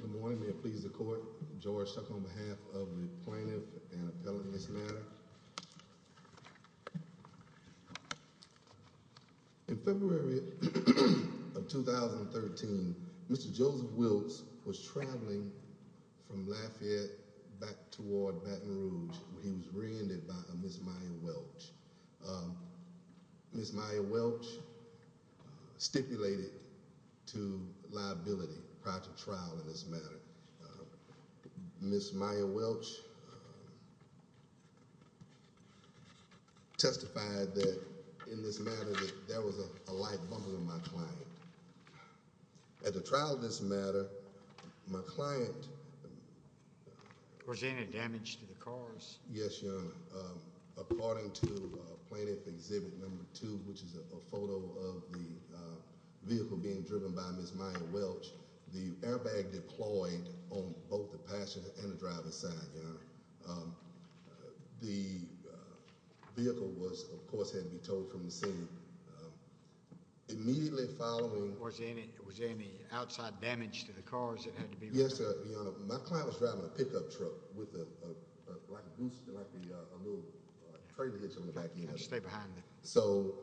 Good morning, may it please the court. George Chuck on behalf of the plaintiff and appellant in this matter. In February of 2013, Mr. Joseph Wiltz was traveling from Lafayette back toward Baton Rouge. He was rear-ended by Ms. Maya Welch. Ms. Maya Welch stipulated to liability prior to trial in this matter. Ms. Maya Welch testified that in this matter there was a light bumper in my client. At the trial of this matter, my client... Was there any damage to the cars? Yes, Your Honor. According to Plaintiff Exhibit No. 2, which is a photo of the vehicle being driven by Ms. Maya Welch, the airbag deployed on both the passenger and the driver's side, Your Honor. The vehicle, of course, had to be towed from the scene. Immediately following... Was there any outside damage to the cars that had to be removed? Yes, Your Honor. My client was driving a pickup truck with a little trailer hitch on the back. So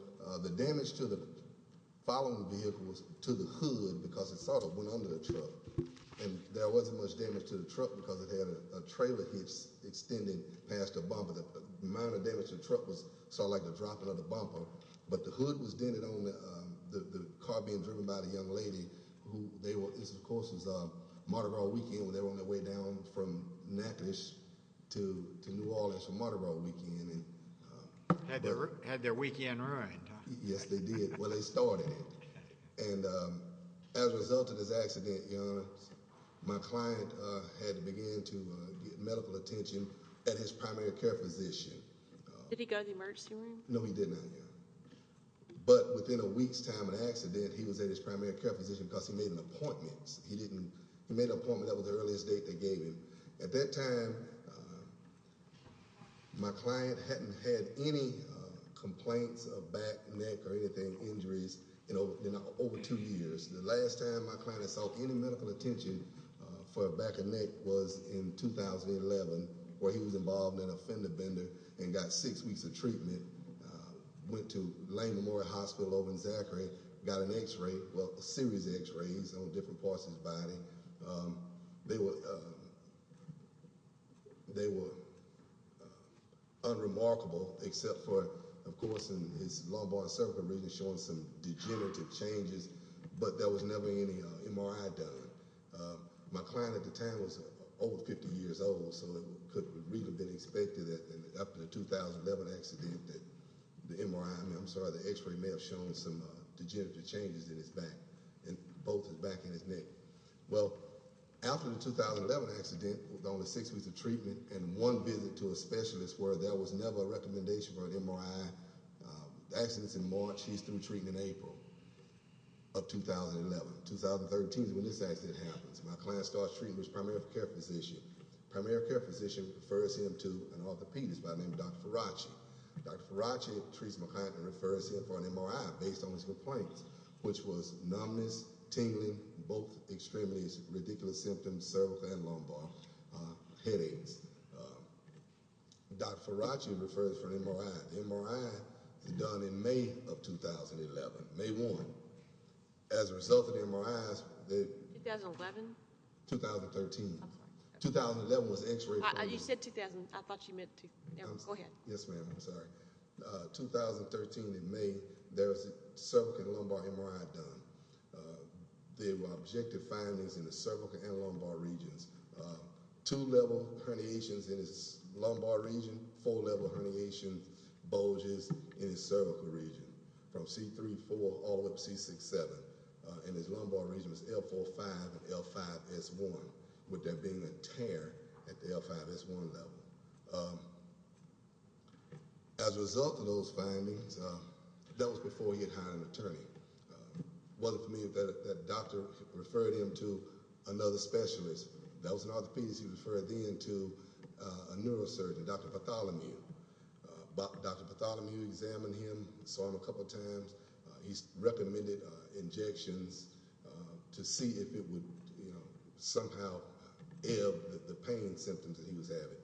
the damage following the vehicle was to the hood because it sort of went under the truck. And there wasn't much damage to the truck because it had a trailer hitch extended past the bumper. The amount of damage to the truck was sort of like the dropping of the bumper. But the hood was dented on the car being driven by the young lady who... This, of course, was Mardi Gras weekend when they were on their way down from Natchitoches to New Orleans for Mardi Gras weekend. Had their weekend ruined. Yes, they did. Well, they started it. And as a result of this accident, Your Honor, my client had to begin to get medical attention at his primary care physician. Did he go to the emergency room? No, he did not, Your Honor. But within a week's time of the accident, he was at his primary care physician because he made an appointment. He made an appointment. That was the earliest date they gave him. At that time, my client hadn't had any complaints of back, neck, or anything, injuries in over two years. The last time my client had sought any medical attention for a back or neck was in 2011 where he was involved in a fender bender and got six weeks of treatment. Went to Lane Memorial Hospital over in Zachary, got an X-ray, well, a series of X-rays on different parts of his body. They were unremarkable except for, of course, in his lumbar and cervical region showing some degenerative changes. But there was never any MRI done. My client at the time was over 50 years old, so it could have really been expected after the 2011 accident that the MRI, I'm sorry, the X-ray may have shown some degenerative changes in his back, both his back and his neck. Well, after the 2011 accident with only six weeks of treatment and one visit to a specialist where there was never a recommendation for an MRI, the accident's in March, he's through treatment in April of 2011. 2013 is when this accident happens. My client starts treatment with his primary care physician. Primary care physician refers him to an orthopedist by the name of Dr. Farachi. Dr. Farachi treats my client and refers him for an MRI based on his complaints, which was numbness, tingling, both extremities, ridiculous symptoms, cervical and lumbar, headaches. Dr. Farachi refers for an MRI. The MRI is done in May of 2011, May 1. As a result of the MRIs, they- 2011? 2013. I'm sorry. 2011 was X-ray- You said 2000. I thought you meant- Go ahead. Yes, ma'am. I'm sorry. 2013 in May, there was a cervical and lumbar MRI done. There were objective findings in the cervical and lumbar regions. Two level herniations in his lumbar region, four level herniation bulges in his cervical region from C3, 4, all the way up to C6, 7. And his lumbar region was L4, 5 and L5, S1, with there being a tear at the L5, S1 level. As a result of those findings, that was before he had hired an attorney. What I mean is that doctor referred him to another specialist. That was an orthopedist. He referred him to a neurosurgeon, Dr. Patholomew. Dr. Patholomew examined him, saw him a couple times. He recommended injections to see if it would somehow ebb the pain symptoms that he was having.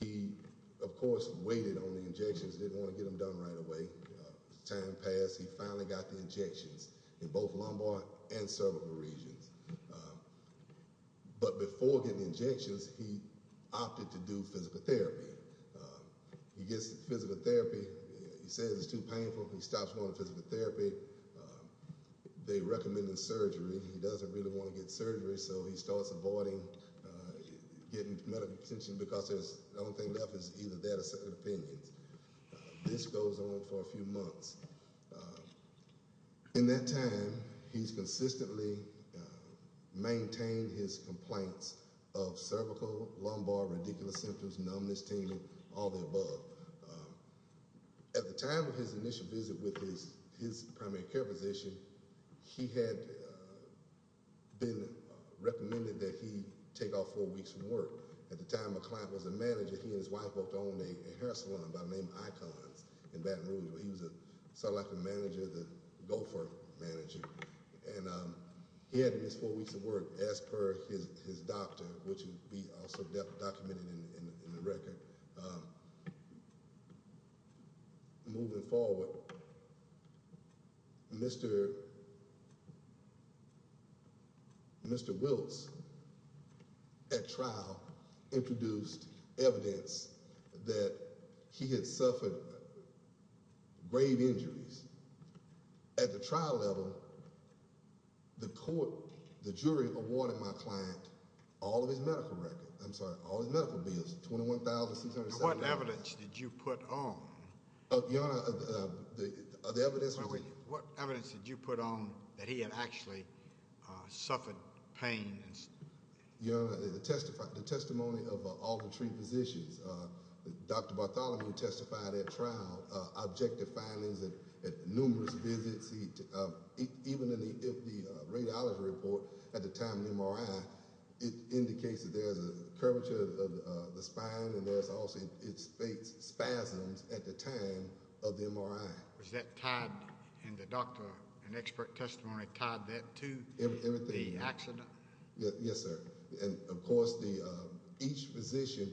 He, of course, waited on the injections, didn't want to get them done right away. Time passed. He finally got the injections in both lumbar and cervical regions. But before getting the injections, he opted to do physical therapy. He gets physical therapy. He says it's too painful. He stops going to physical therapy. They recommended surgery. He doesn't really want to get surgery, so he starts avoiding getting medical attention because the only thing left is either that or separate opinions. This goes on for a few months. In that time, he's consistently maintained his complaints of cervical, lumbar, radicular symptoms, numbness, tingling, all of the above. At the time of his initial visit with his primary care physician, he had been recommended that he take off four weeks from work. At the time, my client was a manager. He and his wife worked on a hair salon by the name of Icons in Baton Rouge. He was sort of like a manager, the gopher manager. And he had to miss four weeks of work as per his doctor, which would be also documented in the record. Moving forward, Mr. Mr. Wills at trial introduced evidence that he had suffered grave injuries at the trial level. The court, the jury awarded my client all of his medical records. I'm sorry, all of his medical bills, $21,607. What evidence did you put on? Your Honor, the evidence was What evidence did you put on that he had actually suffered pain? Your Honor, the testimony of all the three physicians, Dr. Bartholomew testified at trial, objective findings at numerous visits. Even in the radiology report at the time of the MRI, it indicates that there is a curvature of the spine and there is also spasms at the time of the MRI. Was that tied in the doctor, an expert testimony tied that to the accident? Yes, sir. And of course, each physician,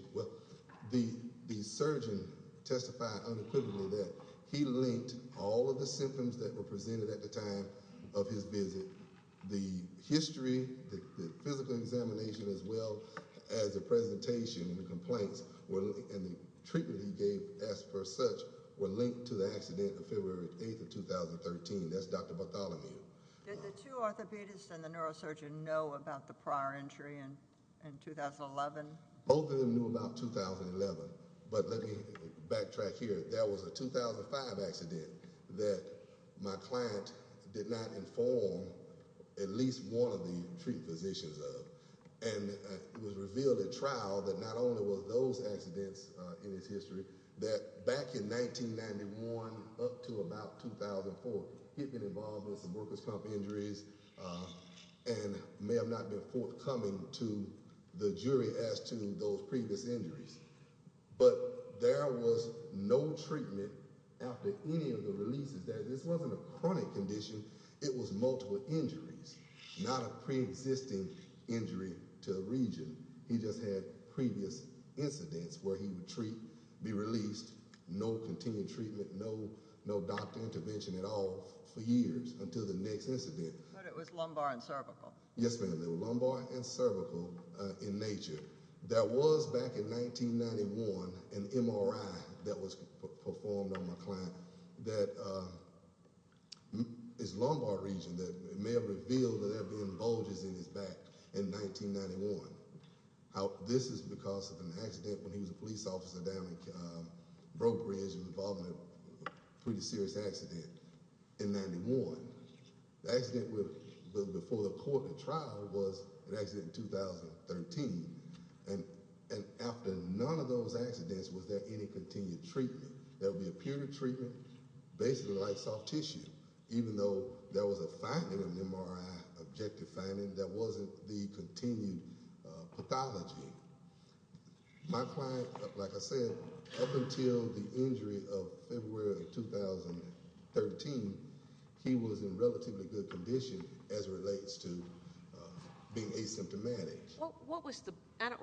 the surgeon testified unequivocally that he linked all of the symptoms that were presented at the time of his visit. The history, the physical examination, as well as the presentation, the complaints and the treatment he gave as per such were linked to the accident of February 8th of 2013. That's Dr. Bartholomew. Did the two orthopedists and the neurosurgeon know about the prior injury in 2011? Both of them knew about 2011. But let me backtrack here. There was a 2005 accident that my client did not inform at least one of the three physicians of. And it was revealed at trial that not only were those accidents in his history, that back in 1991 up to about 2004, he had been involved in some workers' comp injuries and may have not been forthcoming to the jury as to those previous injuries. But there was no treatment after any of the releases. This wasn't a chronic condition. It was multiple injuries, not a preexisting injury to a region. He just had previous incidents where he would be released, no continued treatment, no doctor intervention at all for years until the next incident. But it was lumbar and cervical. Yes, ma'am. It was lumbar and cervical in nature. There was, back in 1991, an MRI that was performed on my client that is lumbar region that may have revealed that there had been bulges in his back in 1991. This is because of an accident when he was a police officer down in Broke Ridge and was involved in a pretty serious accident in 91. The accident before the court and trial was an accident in 2013. And after none of those accidents was there any continued treatment. There would be a period of treatment, basically like soft tissue, even though there was a finding, an MRI, objective finding, that wasn't the continued pathology. My client, like I said, up until the injury of February of 2013, he was in relatively good condition as it relates to being asymptomatic. I don't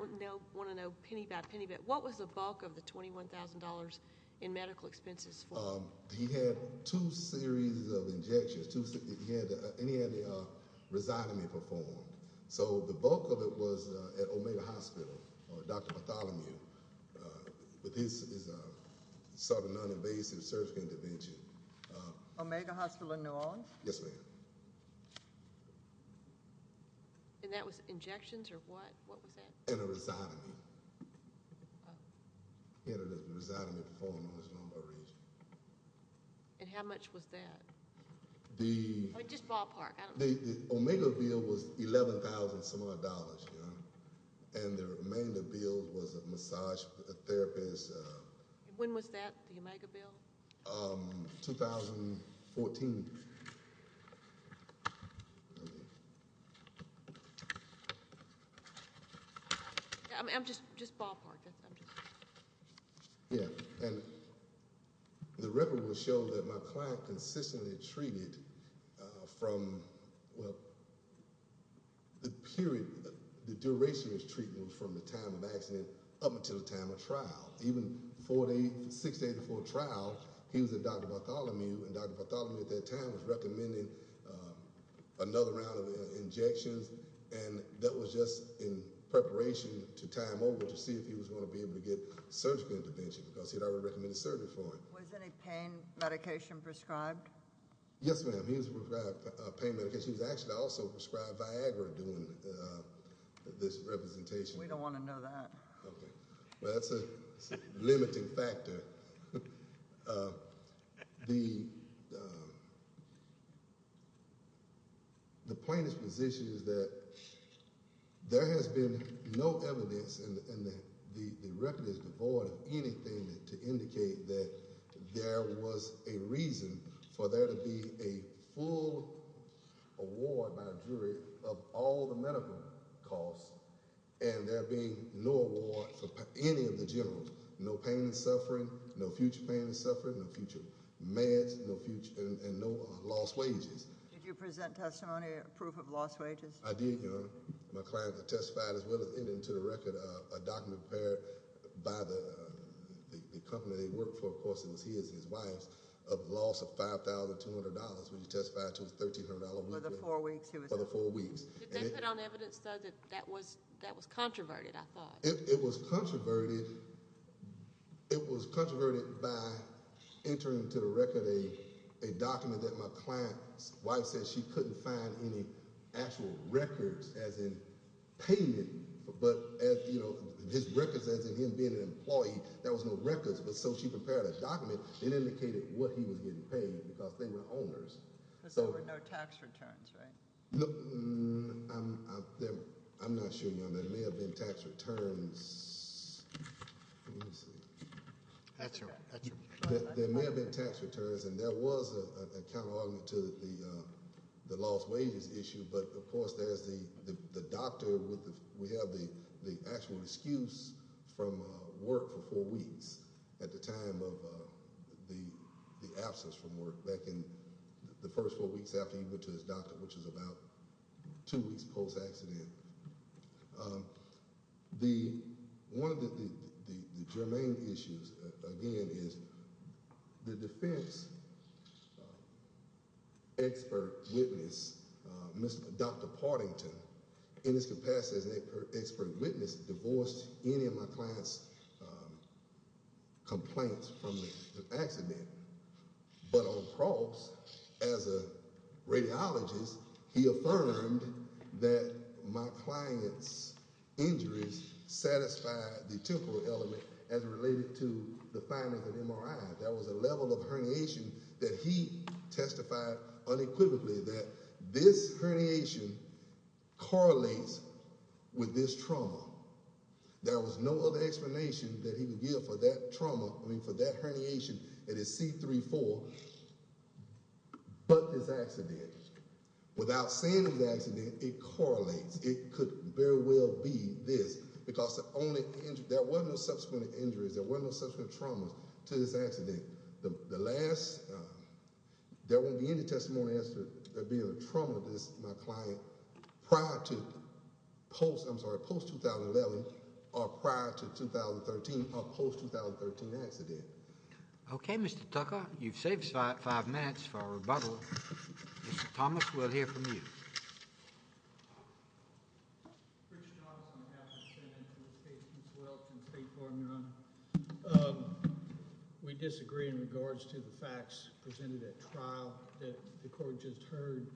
want to know penny by penny, but what was the bulk of the $21,000 in medical expenses for him? He had two series of injections. And he had the rhizotomy performed. So the bulk of it was at Omega Hospital, or Dr. Bartholomew. But this is a sort of non-invasive surgical intervention. Omega Hospital in New Orleans? Yes, ma'am. And that was injections or what? What was that? And a rhizotomy. He had a rhizotomy performed on his lumbar region. And how much was that? I mean, just ballpark. The Omega bill was $11,000-some-odd, ma'am. And the remainder bill was a massage therapist. When was that, the Omega bill? 2014. Just ballpark. Yeah, and the record will show that my client consistently treated from, well, the period, the duration of his treatment from the time of accident up until the time of trial. Even six days before trial, he was at Dr. Bartholomew, and Dr. Bartholomew at that time was recommending another round of injections. And that was just in preparation to time over to see if he was going to be able to get surgical intervention because he had already recommended surgery for him. Was any pain medication prescribed? Yes, ma'am. He was prescribed pain medication. He was actually also prescribed Viagra during this representation. We don't want to know that. Okay. Well, that's a limiting factor. The plaintiff's position is that there has been no evidence, and the record is devoid of anything to indicate that there was a reason for there to be a full award by a jury of all the medical costs and there being no award for any of the generals, no pain and suffering, no future pain and suffering, no future meds, and no lost wages. Did you present testimony or proof of lost wages? I did, Your Honor. My client testified as well as ending to the record a document prepared by the company they worked for, of course it was he and his wife, of loss of $5,200, which he testified to was $1,300. For the four weeks he was in? For the four weeks. Did they put on evidence, though, that that was controverted, I thought? It was controverted by entering to the record a document that my client's wife said she couldn't find any actual records, as in payment, but his records as in him being an employee. There was no records, but so she prepared a document that indicated what he was getting paid because they were owners. Because there were no tax returns, right? I'm not sure, Your Honor. There may have been tax returns. There may have been tax returns, and there was a counterargument to the lost wages issue, but, of course, there's the doctor. We have the actual excuse from work for four weeks at the time of the absence from work, back in the first four weeks after he went to his doctor, which was about two weeks post-accident. One of the germane issues, again, is the defense expert witness, Dr. Partington, in his capacity as an expert witness, divorced any of my client's complaints from the accident, but, of course, as a radiologist, he affirmed that my client's injuries satisfied the temporal element as related to the findings of MRI. There was a level of herniation that he testified unequivocally that this herniation correlates with this trauma. There was no other explanation that he would give for that trauma, I mean, for that herniation that is C3-4, but this accident. Without saying the accident, it correlates. It could very well be this because there were no subsequent injuries. There were no subsequent traumas to this accident. There won't be any testimony as to there being a trauma to my client prior to post-2011 or prior to 2013 or post-2013 accident. Okay, Mr. Tucker, you've saved us five minutes for our rebuttal. Mr. Thomas, we'll hear from you. Richard Thomas, on behalf of the Senate, and the State's Ms. Welch, and State Farm, Your Honor. We disagree in regards to the facts presented at trial that the court just heard.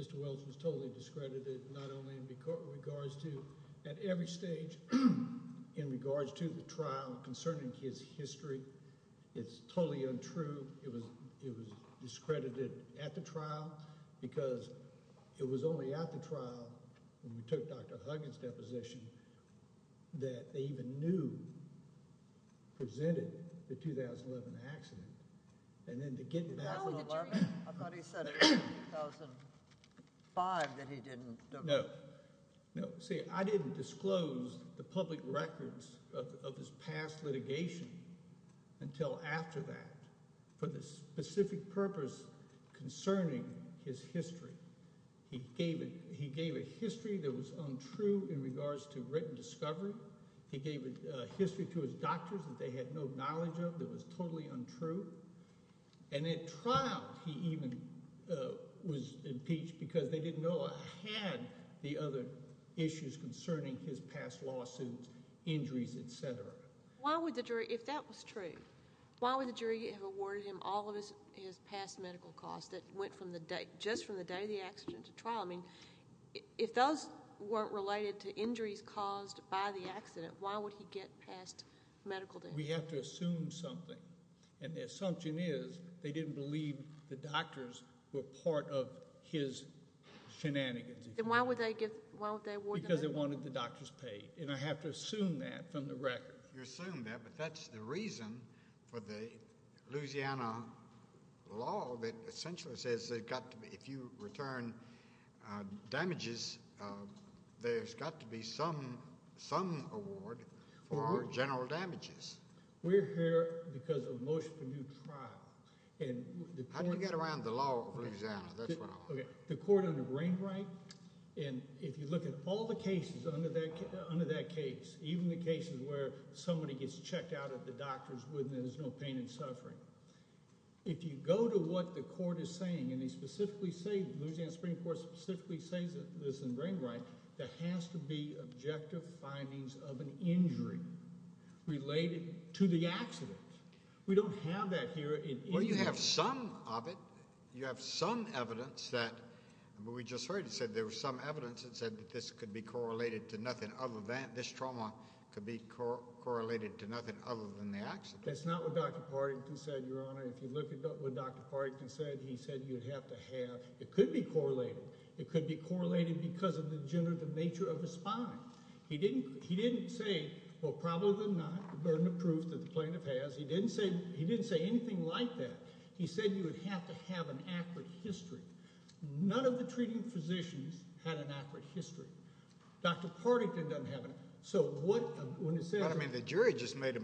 Mr. Welch was totally discredited, not only in regards to at every stage, in regards to the trial concerning his history. It's totally untrue. It was discredited at the trial because it was only at the trial, when we took Dr. Huggins' deposition, that they even knew, presented the 2011 accident. And then to get back to 2011. I thought he said it was 2005 that he didn't know. See, I didn't disclose the public records of his past litigation until after that for the specific purpose concerning his history. He gave a history that was untrue in regards to written discovery. He gave a history to his doctors that they had no knowledge of that was totally untrue. And at trial, he even was impeached because they didn't know or had the other issues concerning his past lawsuits, injuries, etc. Why would the jury, if that was true, why would the jury have awarded him all of his past medical costs that went from the day, just from the day of the accident to trial? I mean, if those weren't related to injuries caused by the accident, why would he get past medical damage? We have to assume something. And the assumption is they didn't believe the doctors were part of his shenanigans. Then why would they award him? Because they wanted the doctors paid. And I have to assume that from the record. You assume that, but that's the reason for the Louisiana law that essentially says if you return damages, there's got to be some award for general damages. We're here because of motion to do trial. How do we get around the law of Louisiana? That's what I want to know. The court under Brainwright, and if you look at all the cases under that case, even the cases where somebody gets checked out at the doctor's with no pain and suffering. If you go to what the court is saying, and they specifically say, Louisiana Supreme Court specifically says this in Brainwright, there has to be objective findings of an injury related to the accident. We don't have that here. Well, you have some of it. You have some evidence that we just heard. It said there was some evidence that said that this could be correlated to nothing other than this trauma could be correlated to nothing other than the accident. That's not what Dr. Partington said, Your Honor. If you look at what Dr. Partington said, he said you'd have to have. It could be correlated. It could be correlated because of the generative nature of the spine. He didn't. He didn't say, well, probably not. The burden of proof that the plaintiff has. He didn't say anything like that. He said you would have to have an accurate history. None of the treating physicians had an accurate history. Dr. Partington doesn't have it. So what, when he said. I mean the jury just made a,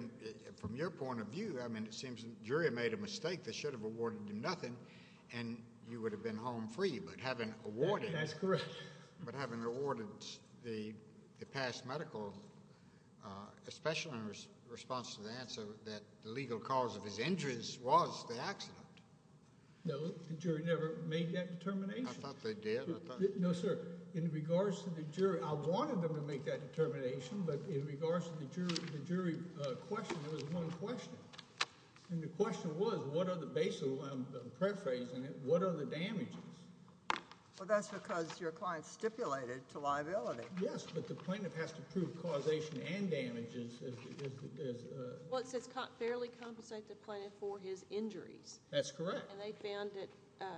from your point of view, I mean it seems the jury made a mistake. They should have awarded him nothing, and you would have been home free. But having awarded. That's correct. But having awarded the past medical, especially in response to the answer that the legal cause of his injuries was the accident. No, the jury never made that determination. I thought they did. No, sir. In regards to the jury, I wanted them to make that determination, but in regards to the jury question, there was one question. And the question was, what are the basic paraphrasing, what are the damages? Well, that's because your client stipulated to liability. Yes, but the plaintiff has to prove causation and damages. Well, it says fairly compensated plaintiff for his injuries. That's correct. And they found that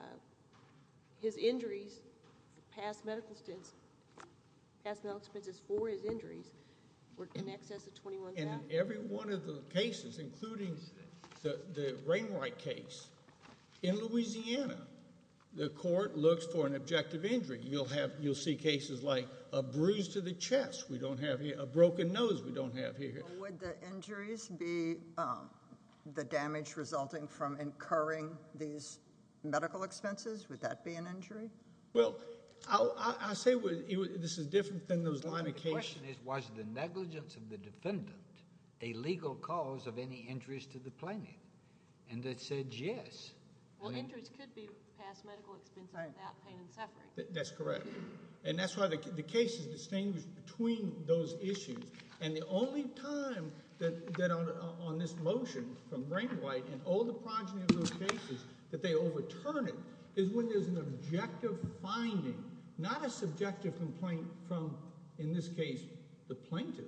his injuries, past medical, past medical expenses for his injuries were in excess of $21,000. And in every one of the cases, including the Rainwright case, in Louisiana, the court looks for an objective injury. You'll see cases like a bruise to the chest we don't have here, a broken nose we don't have here. Would the injuries be the damage resulting from incurring these medical expenses? Would that be an injury? Well, I say this is different than those line of cases. The question is, was the negligence of the defendant a legal cause of any injuries to the plaintiff? And they said yes. Well, injuries could be past medical expenses without pain and suffering. That's correct. And that's why the case is distinguished between those issues. And the only time that on this motion from Rainwright and all the progeny of those cases that they overturn it is when there's an objective finding, not a subjective complaint from, in this case, the plaintiff.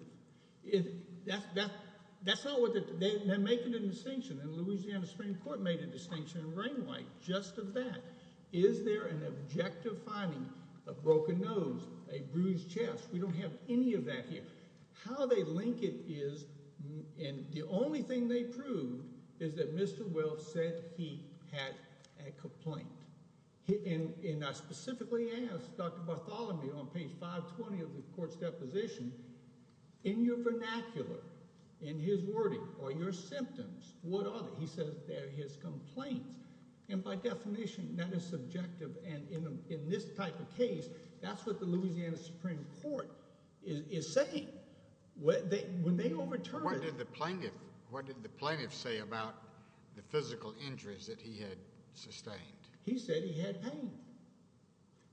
That's not what they're making a distinction. And Louisiana Supreme Court made a distinction in Rainwright just of that. Is there an objective finding, a broken nose, a bruised chest? We don't have any of that here. How they link it is, and the only thing they proved, is that Mr. Welch said he had a complaint. And I specifically asked Dr. Bartholomew on page 520 of the court's deposition, in your vernacular, in his wording, are your symptoms? What are they? He says they're his complaints. And by definition, that is subjective. And in this type of case, that's what the Louisiana Supreme Court is saying. When they overturn it— What did the plaintiff say about the physical injuries that he had sustained? He said he had pain.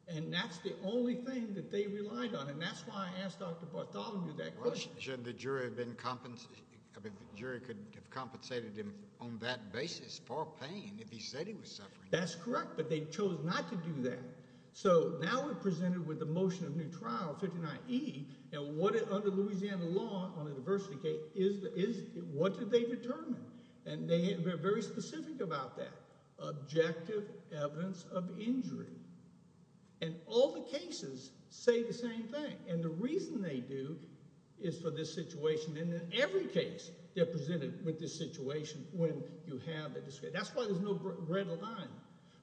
And that's the only thing that they relied on. And that's why I asked Dr. Bartholomew that question. But shouldn't the jury have been—the jury could have compensated him on that basis for pain if he said he was suffering? That's correct, but they chose not to do that. So now we're presented with the motion of new trial, 59E, and what it—under Louisiana law, on a diversity case, what did they determine? And they're very specific about that. Objective evidence of injury. And all the cases say the same thing. And the reason they do is for this situation. And in every case, they're presented with this situation when you have it. That's why there's no red line.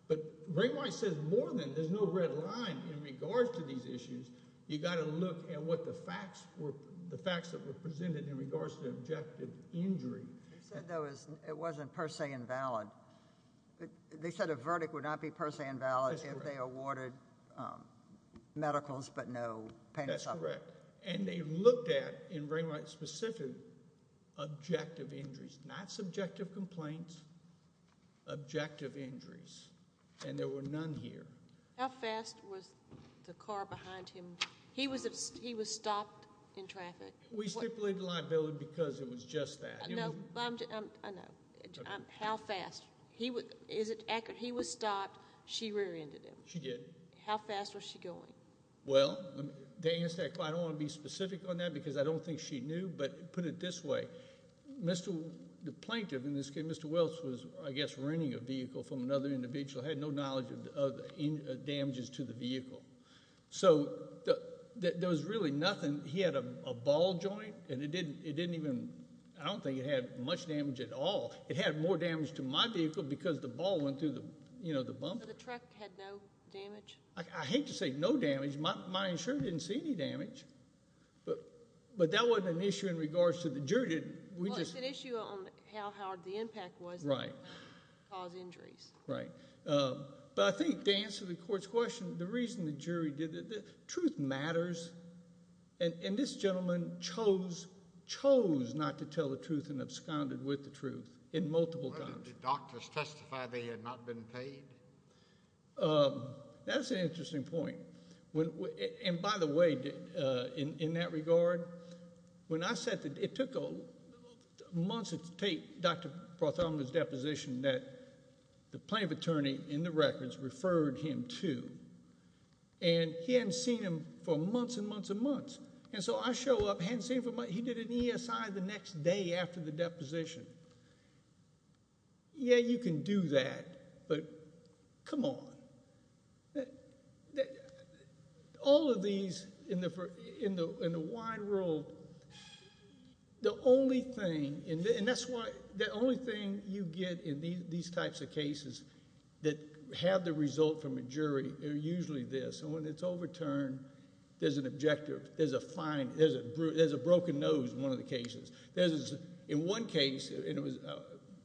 But Bray Wyatt says more than there's no red line in regards to these issues. You've got to look at what the facts were—the facts that were presented in regards to the objective injury. He said that it wasn't per se invalid. They said a verdict would not be per se invalid if they awarded medicals but no pain or suffering. That's correct. And they looked at, in Bray Wyatt's specific, objective injuries, not subjective complaints, objective injuries. And there were none here. How fast was the car behind him? He was stopped in traffic. We stipulated liability because it was just that. No, I know. How fast? Is it accurate? He was stopped. She rear-ended him. She did. How fast was she going? Well, to answer that question, I don't want to be specific on that because I don't think she knew. But put it this way, the plaintiff in this case, Mr. Welch, was, I guess, renting a vehicle from another individual, had no knowledge of damages to the vehicle. So there was really nothing. He had a ball joint, and it didn't even, I don't think it had much damage at all. It had more damage to my vehicle because the ball went through the bumper. So the truck had no damage? I hate to say no damage. My insurance didn't see any damage. But that wasn't an issue in regards to the jury. Well, it's an issue on how hard the impact was that caused injuries. Right. But I think to answer the court's question, the reason the jury did it, truth matters. And this gentleman chose not to tell the truth and absconded with the truth in multiple times. Did doctors testify they had not been paid? That's an interesting point. And, by the way, in that regard, when I said that it took months to take Dr. Prothoma's deposition, that the plaintiff attorney in the records referred him to. And he hadn't seen him for months and months and months. And so I show up, hadn't seen him for months. He did an ESI the next day after the deposition. Yeah, you can do that, but come on. All of these in the wide world, the only thing, and that's why the only thing you get in these types of cases that have the result from a jury are usually this. And when it's overturned, there's an objective. There's a fine. There's a broken nose in one of the cases. In one case,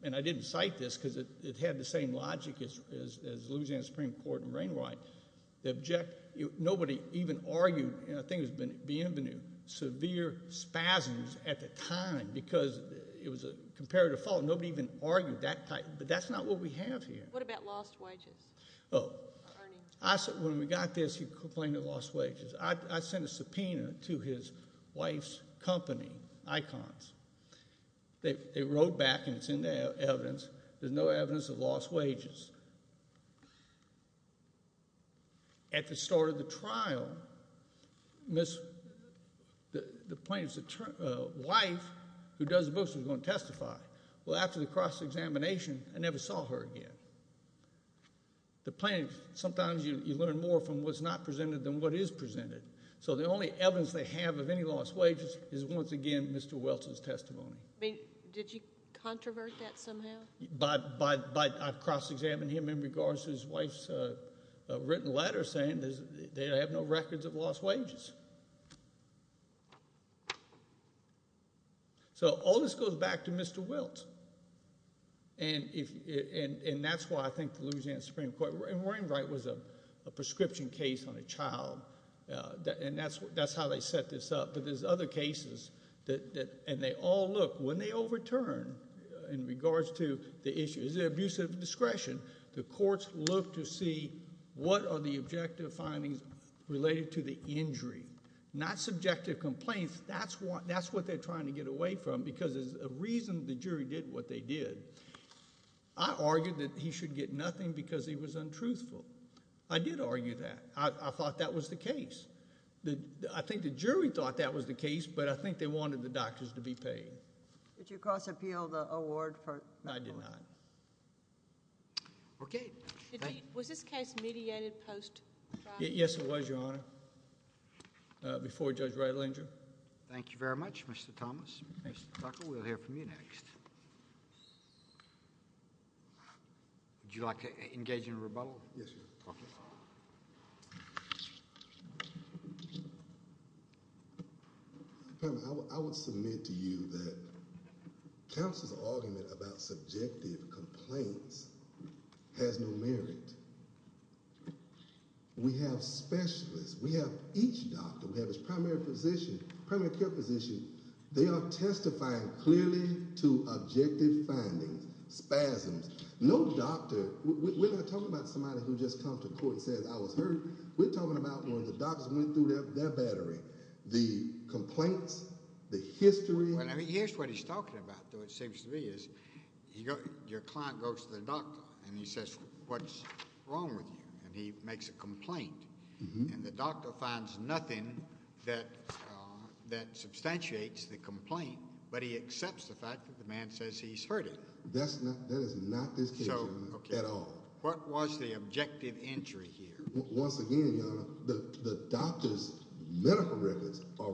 and I didn't cite this because it had the same logic as Louisiana Supreme Court and Rainwright, nobody even argued, and I think it was Bienvenu, severe spasms at the time because it was a comparative fault. Nobody even argued that type, but that's not what we have here. What about lost wages? Oh, when we got this, he complained of lost wages. I sent a subpoena to his wife's company, Icons. They wrote back, and it's in the evidence. There's no evidence of lost wages. At the start of the trial, the plaintiff's wife, who does the books, was going to testify. Well, after the cross-examination, I never saw her again. The plaintiff, sometimes you learn more from what's not presented than what is presented. So the only evidence they have of any lost wages is, once again, Mr. Welch's testimony. Did you controvert that somehow? I cross-examined him in regards to his wife's written letter saying they have no records of lost wages. So all this goes back to Mr. Welch. And that's why I think the Louisiana Supreme Court, and Warren Wright was a prescription case on a child, and that's how they set this up. But there's other cases, and they all look. When they overturn in regards to the issue, is it abuse of discretion? The courts look to see what are the objective findings related to the injury. Not subjective complaints. That's what they're trying to get away from, because there's a reason the jury did what they did. I argued that he should get nothing because he was untruthful. I did argue that. I thought that was the case. I think the jury thought that was the case, but I think they wanted the doctors to be paid. Did you cross-appeal the award? No, I did not. Okay. Was this case mediated post trial? Yes, it was, Your Honor. Before Judge Reitling. Thank you very much, Mr. Thomas. Mr. Tucker, we'll hear from you next. Would you like to engage in a rebuttal? Yes, Your Honor. Okay. I would submit to you that counsel's argument about subjective complaints has no merit. We have specialists. We have each doctor. We have his primary physician, primary care physician. They are testifying clearly to objective findings, spasms. We're not talking about somebody who just comes to court and says, I was hurt. We're talking about when the doctors went through their battery, the complaints, the history. Here's what he's talking about, though, it seems to me. Your client goes to the doctor, and he says, What's wrong with you? And he makes a complaint. And the doctor finds nothing that substantiates the complaint, but he accepts the fact that the man says he's hurted. That is not this case, Your Honor, at all. What was the objective entry here? Once again, Your Honor, the doctor's medical records are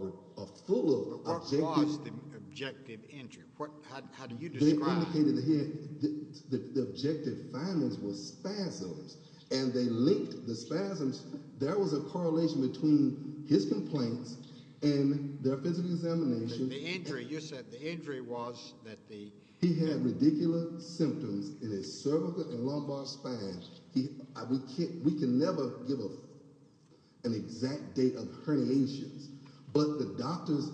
full of objective findings. What was the objective entry? How do you describe it? The objective findings were spasms, and they linked the spasms. There was a correlation between his complaints and their physical examination. The injury, you said the injury was that the — He had radicular symptoms in his cervical and lumbar spine. We can never give an exact date of herniations, but the doctors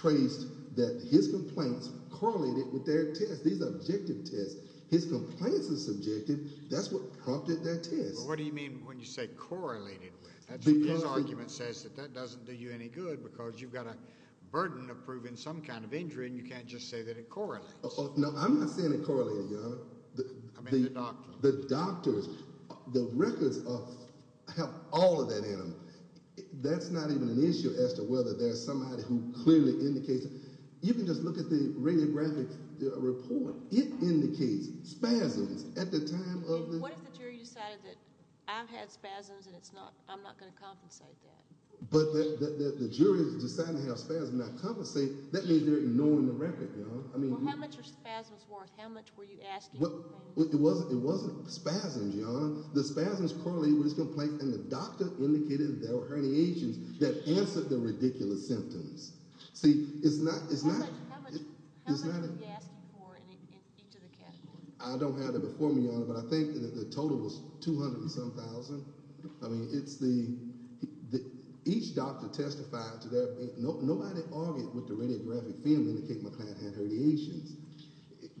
traced that his complaints correlated with their test. These are objective tests. His complaints are subjective. That's what prompted that test. What do you mean when you say correlated with? His argument says that that doesn't do you any good because you've got a burden of proving some kind of injury, and you can't just say that it correlates. No, I'm not saying it correlated, Your Honor. I mean the doctors. The doctors. The records have all of that in them. That's not even an issue as to whether there's somebody who clearly indicates it. You can just look at the radiographic report. It indicates spasms at the time of the — What if the jury decided that I've had spasms and I'm not going to compensate that? But the jury has decided to have spasms, not compensate. That means they're ignoring the record, Your Honor. Well, how much are spasms worth? How much were you asking for? It wasn't spasms, Your Honor. The spasms correlated with his complaint, and the doctor indicated that there were herniations that answered the ridiculous symptoms. See, it's not— How much were you asking for in each of the categories? I don't have it before me, Your Honor, but I think the total was 200 and some thousand. I mean, it's the— Each doctor testified to their— Nobody argued with the radiographic field indicating my client had herniations.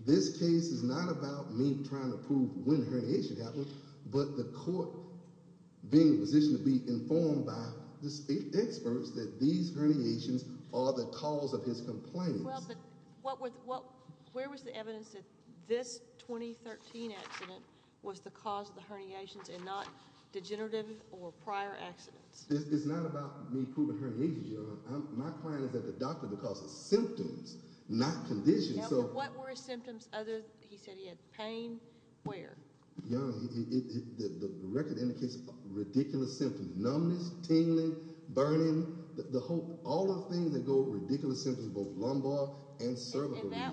This case is not about me trying to prove when the herniation happened, but the court being positioned to be informed by the experts that these herniations are the cause of his complaints. Well, but where was the evidence that this 2013 accident was the cause of the herniations and not degenerative or prior accidents? It's not about me proving herniations, Your Honor. My client is at the doctor because of symptoms, not conditions. Now, but what were his symptoms other—he said he had pain. Where? Your Honor, the record indicates ridiculous symptoms—numbness, tingling, burning. The whole—all the things that go with ridiculous symptoms, both lumbar and cervical lesions.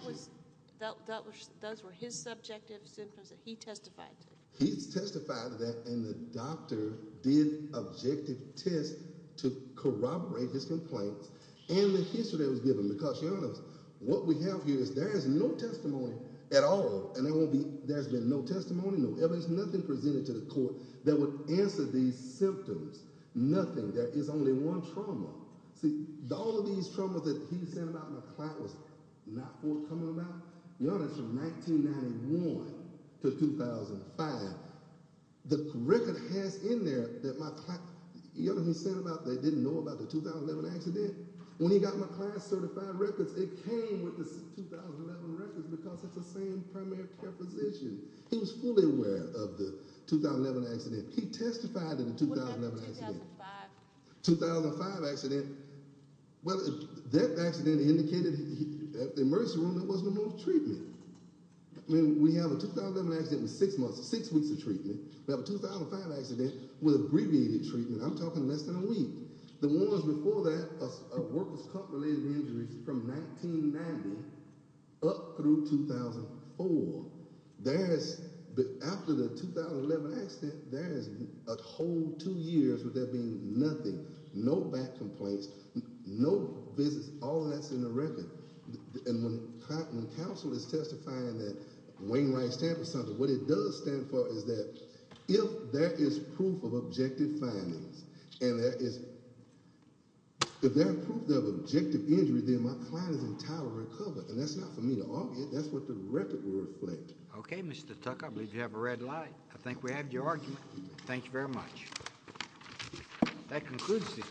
And that was—those were his subjective symptoms that he testified to. He testified to that, and the doctor did objective tests to corroborate his complaints and the history that was given. Because, Your Honor, what we have here is there is no testimony at all, and there won't be—there's been no testimony, no evidence, nothing presented to the court that would answer these symptoms. Nothing. There is only one trauma. See, all of these traumas that he sent about and my client was not forthcoming about, Your Honor, from 1991 to 2005, the record has in there that my client— You know what he sent about that he didn't know about the 2011 accident? When he got my client's certified records, it came with the 2011 records because it's the same primary care physician. He was fully aware of the 2011 accident. He testified to the 2011 accident. What about the 2005? 2005 accident. Well, that accident indicated—at the emergency room, there was no more treatment. I mean, we have a 2011 accident with six months—six weeks of treatment. We have a 2005 accident with abbreviated treatment. I'm talking less than a week. The ones before that are workers' cartilage injuries from 1990 up through 2004. After the 2011 accident, there is a whole two years with there being nothing. No back complaints. No visits. All of that's in the record. And when counsel is testifying that Wayne Wright's Tampa Center, what it does stand for is that if there is proof of objective findings and there is—if there is proof of objective injury, then my client is entirely recovered. And that's not for me to argue. That's what the record will reflect. Okay, Mr. Tucker. I believe you have a red light. I think we have your argument. Thank you very much. That concludes this—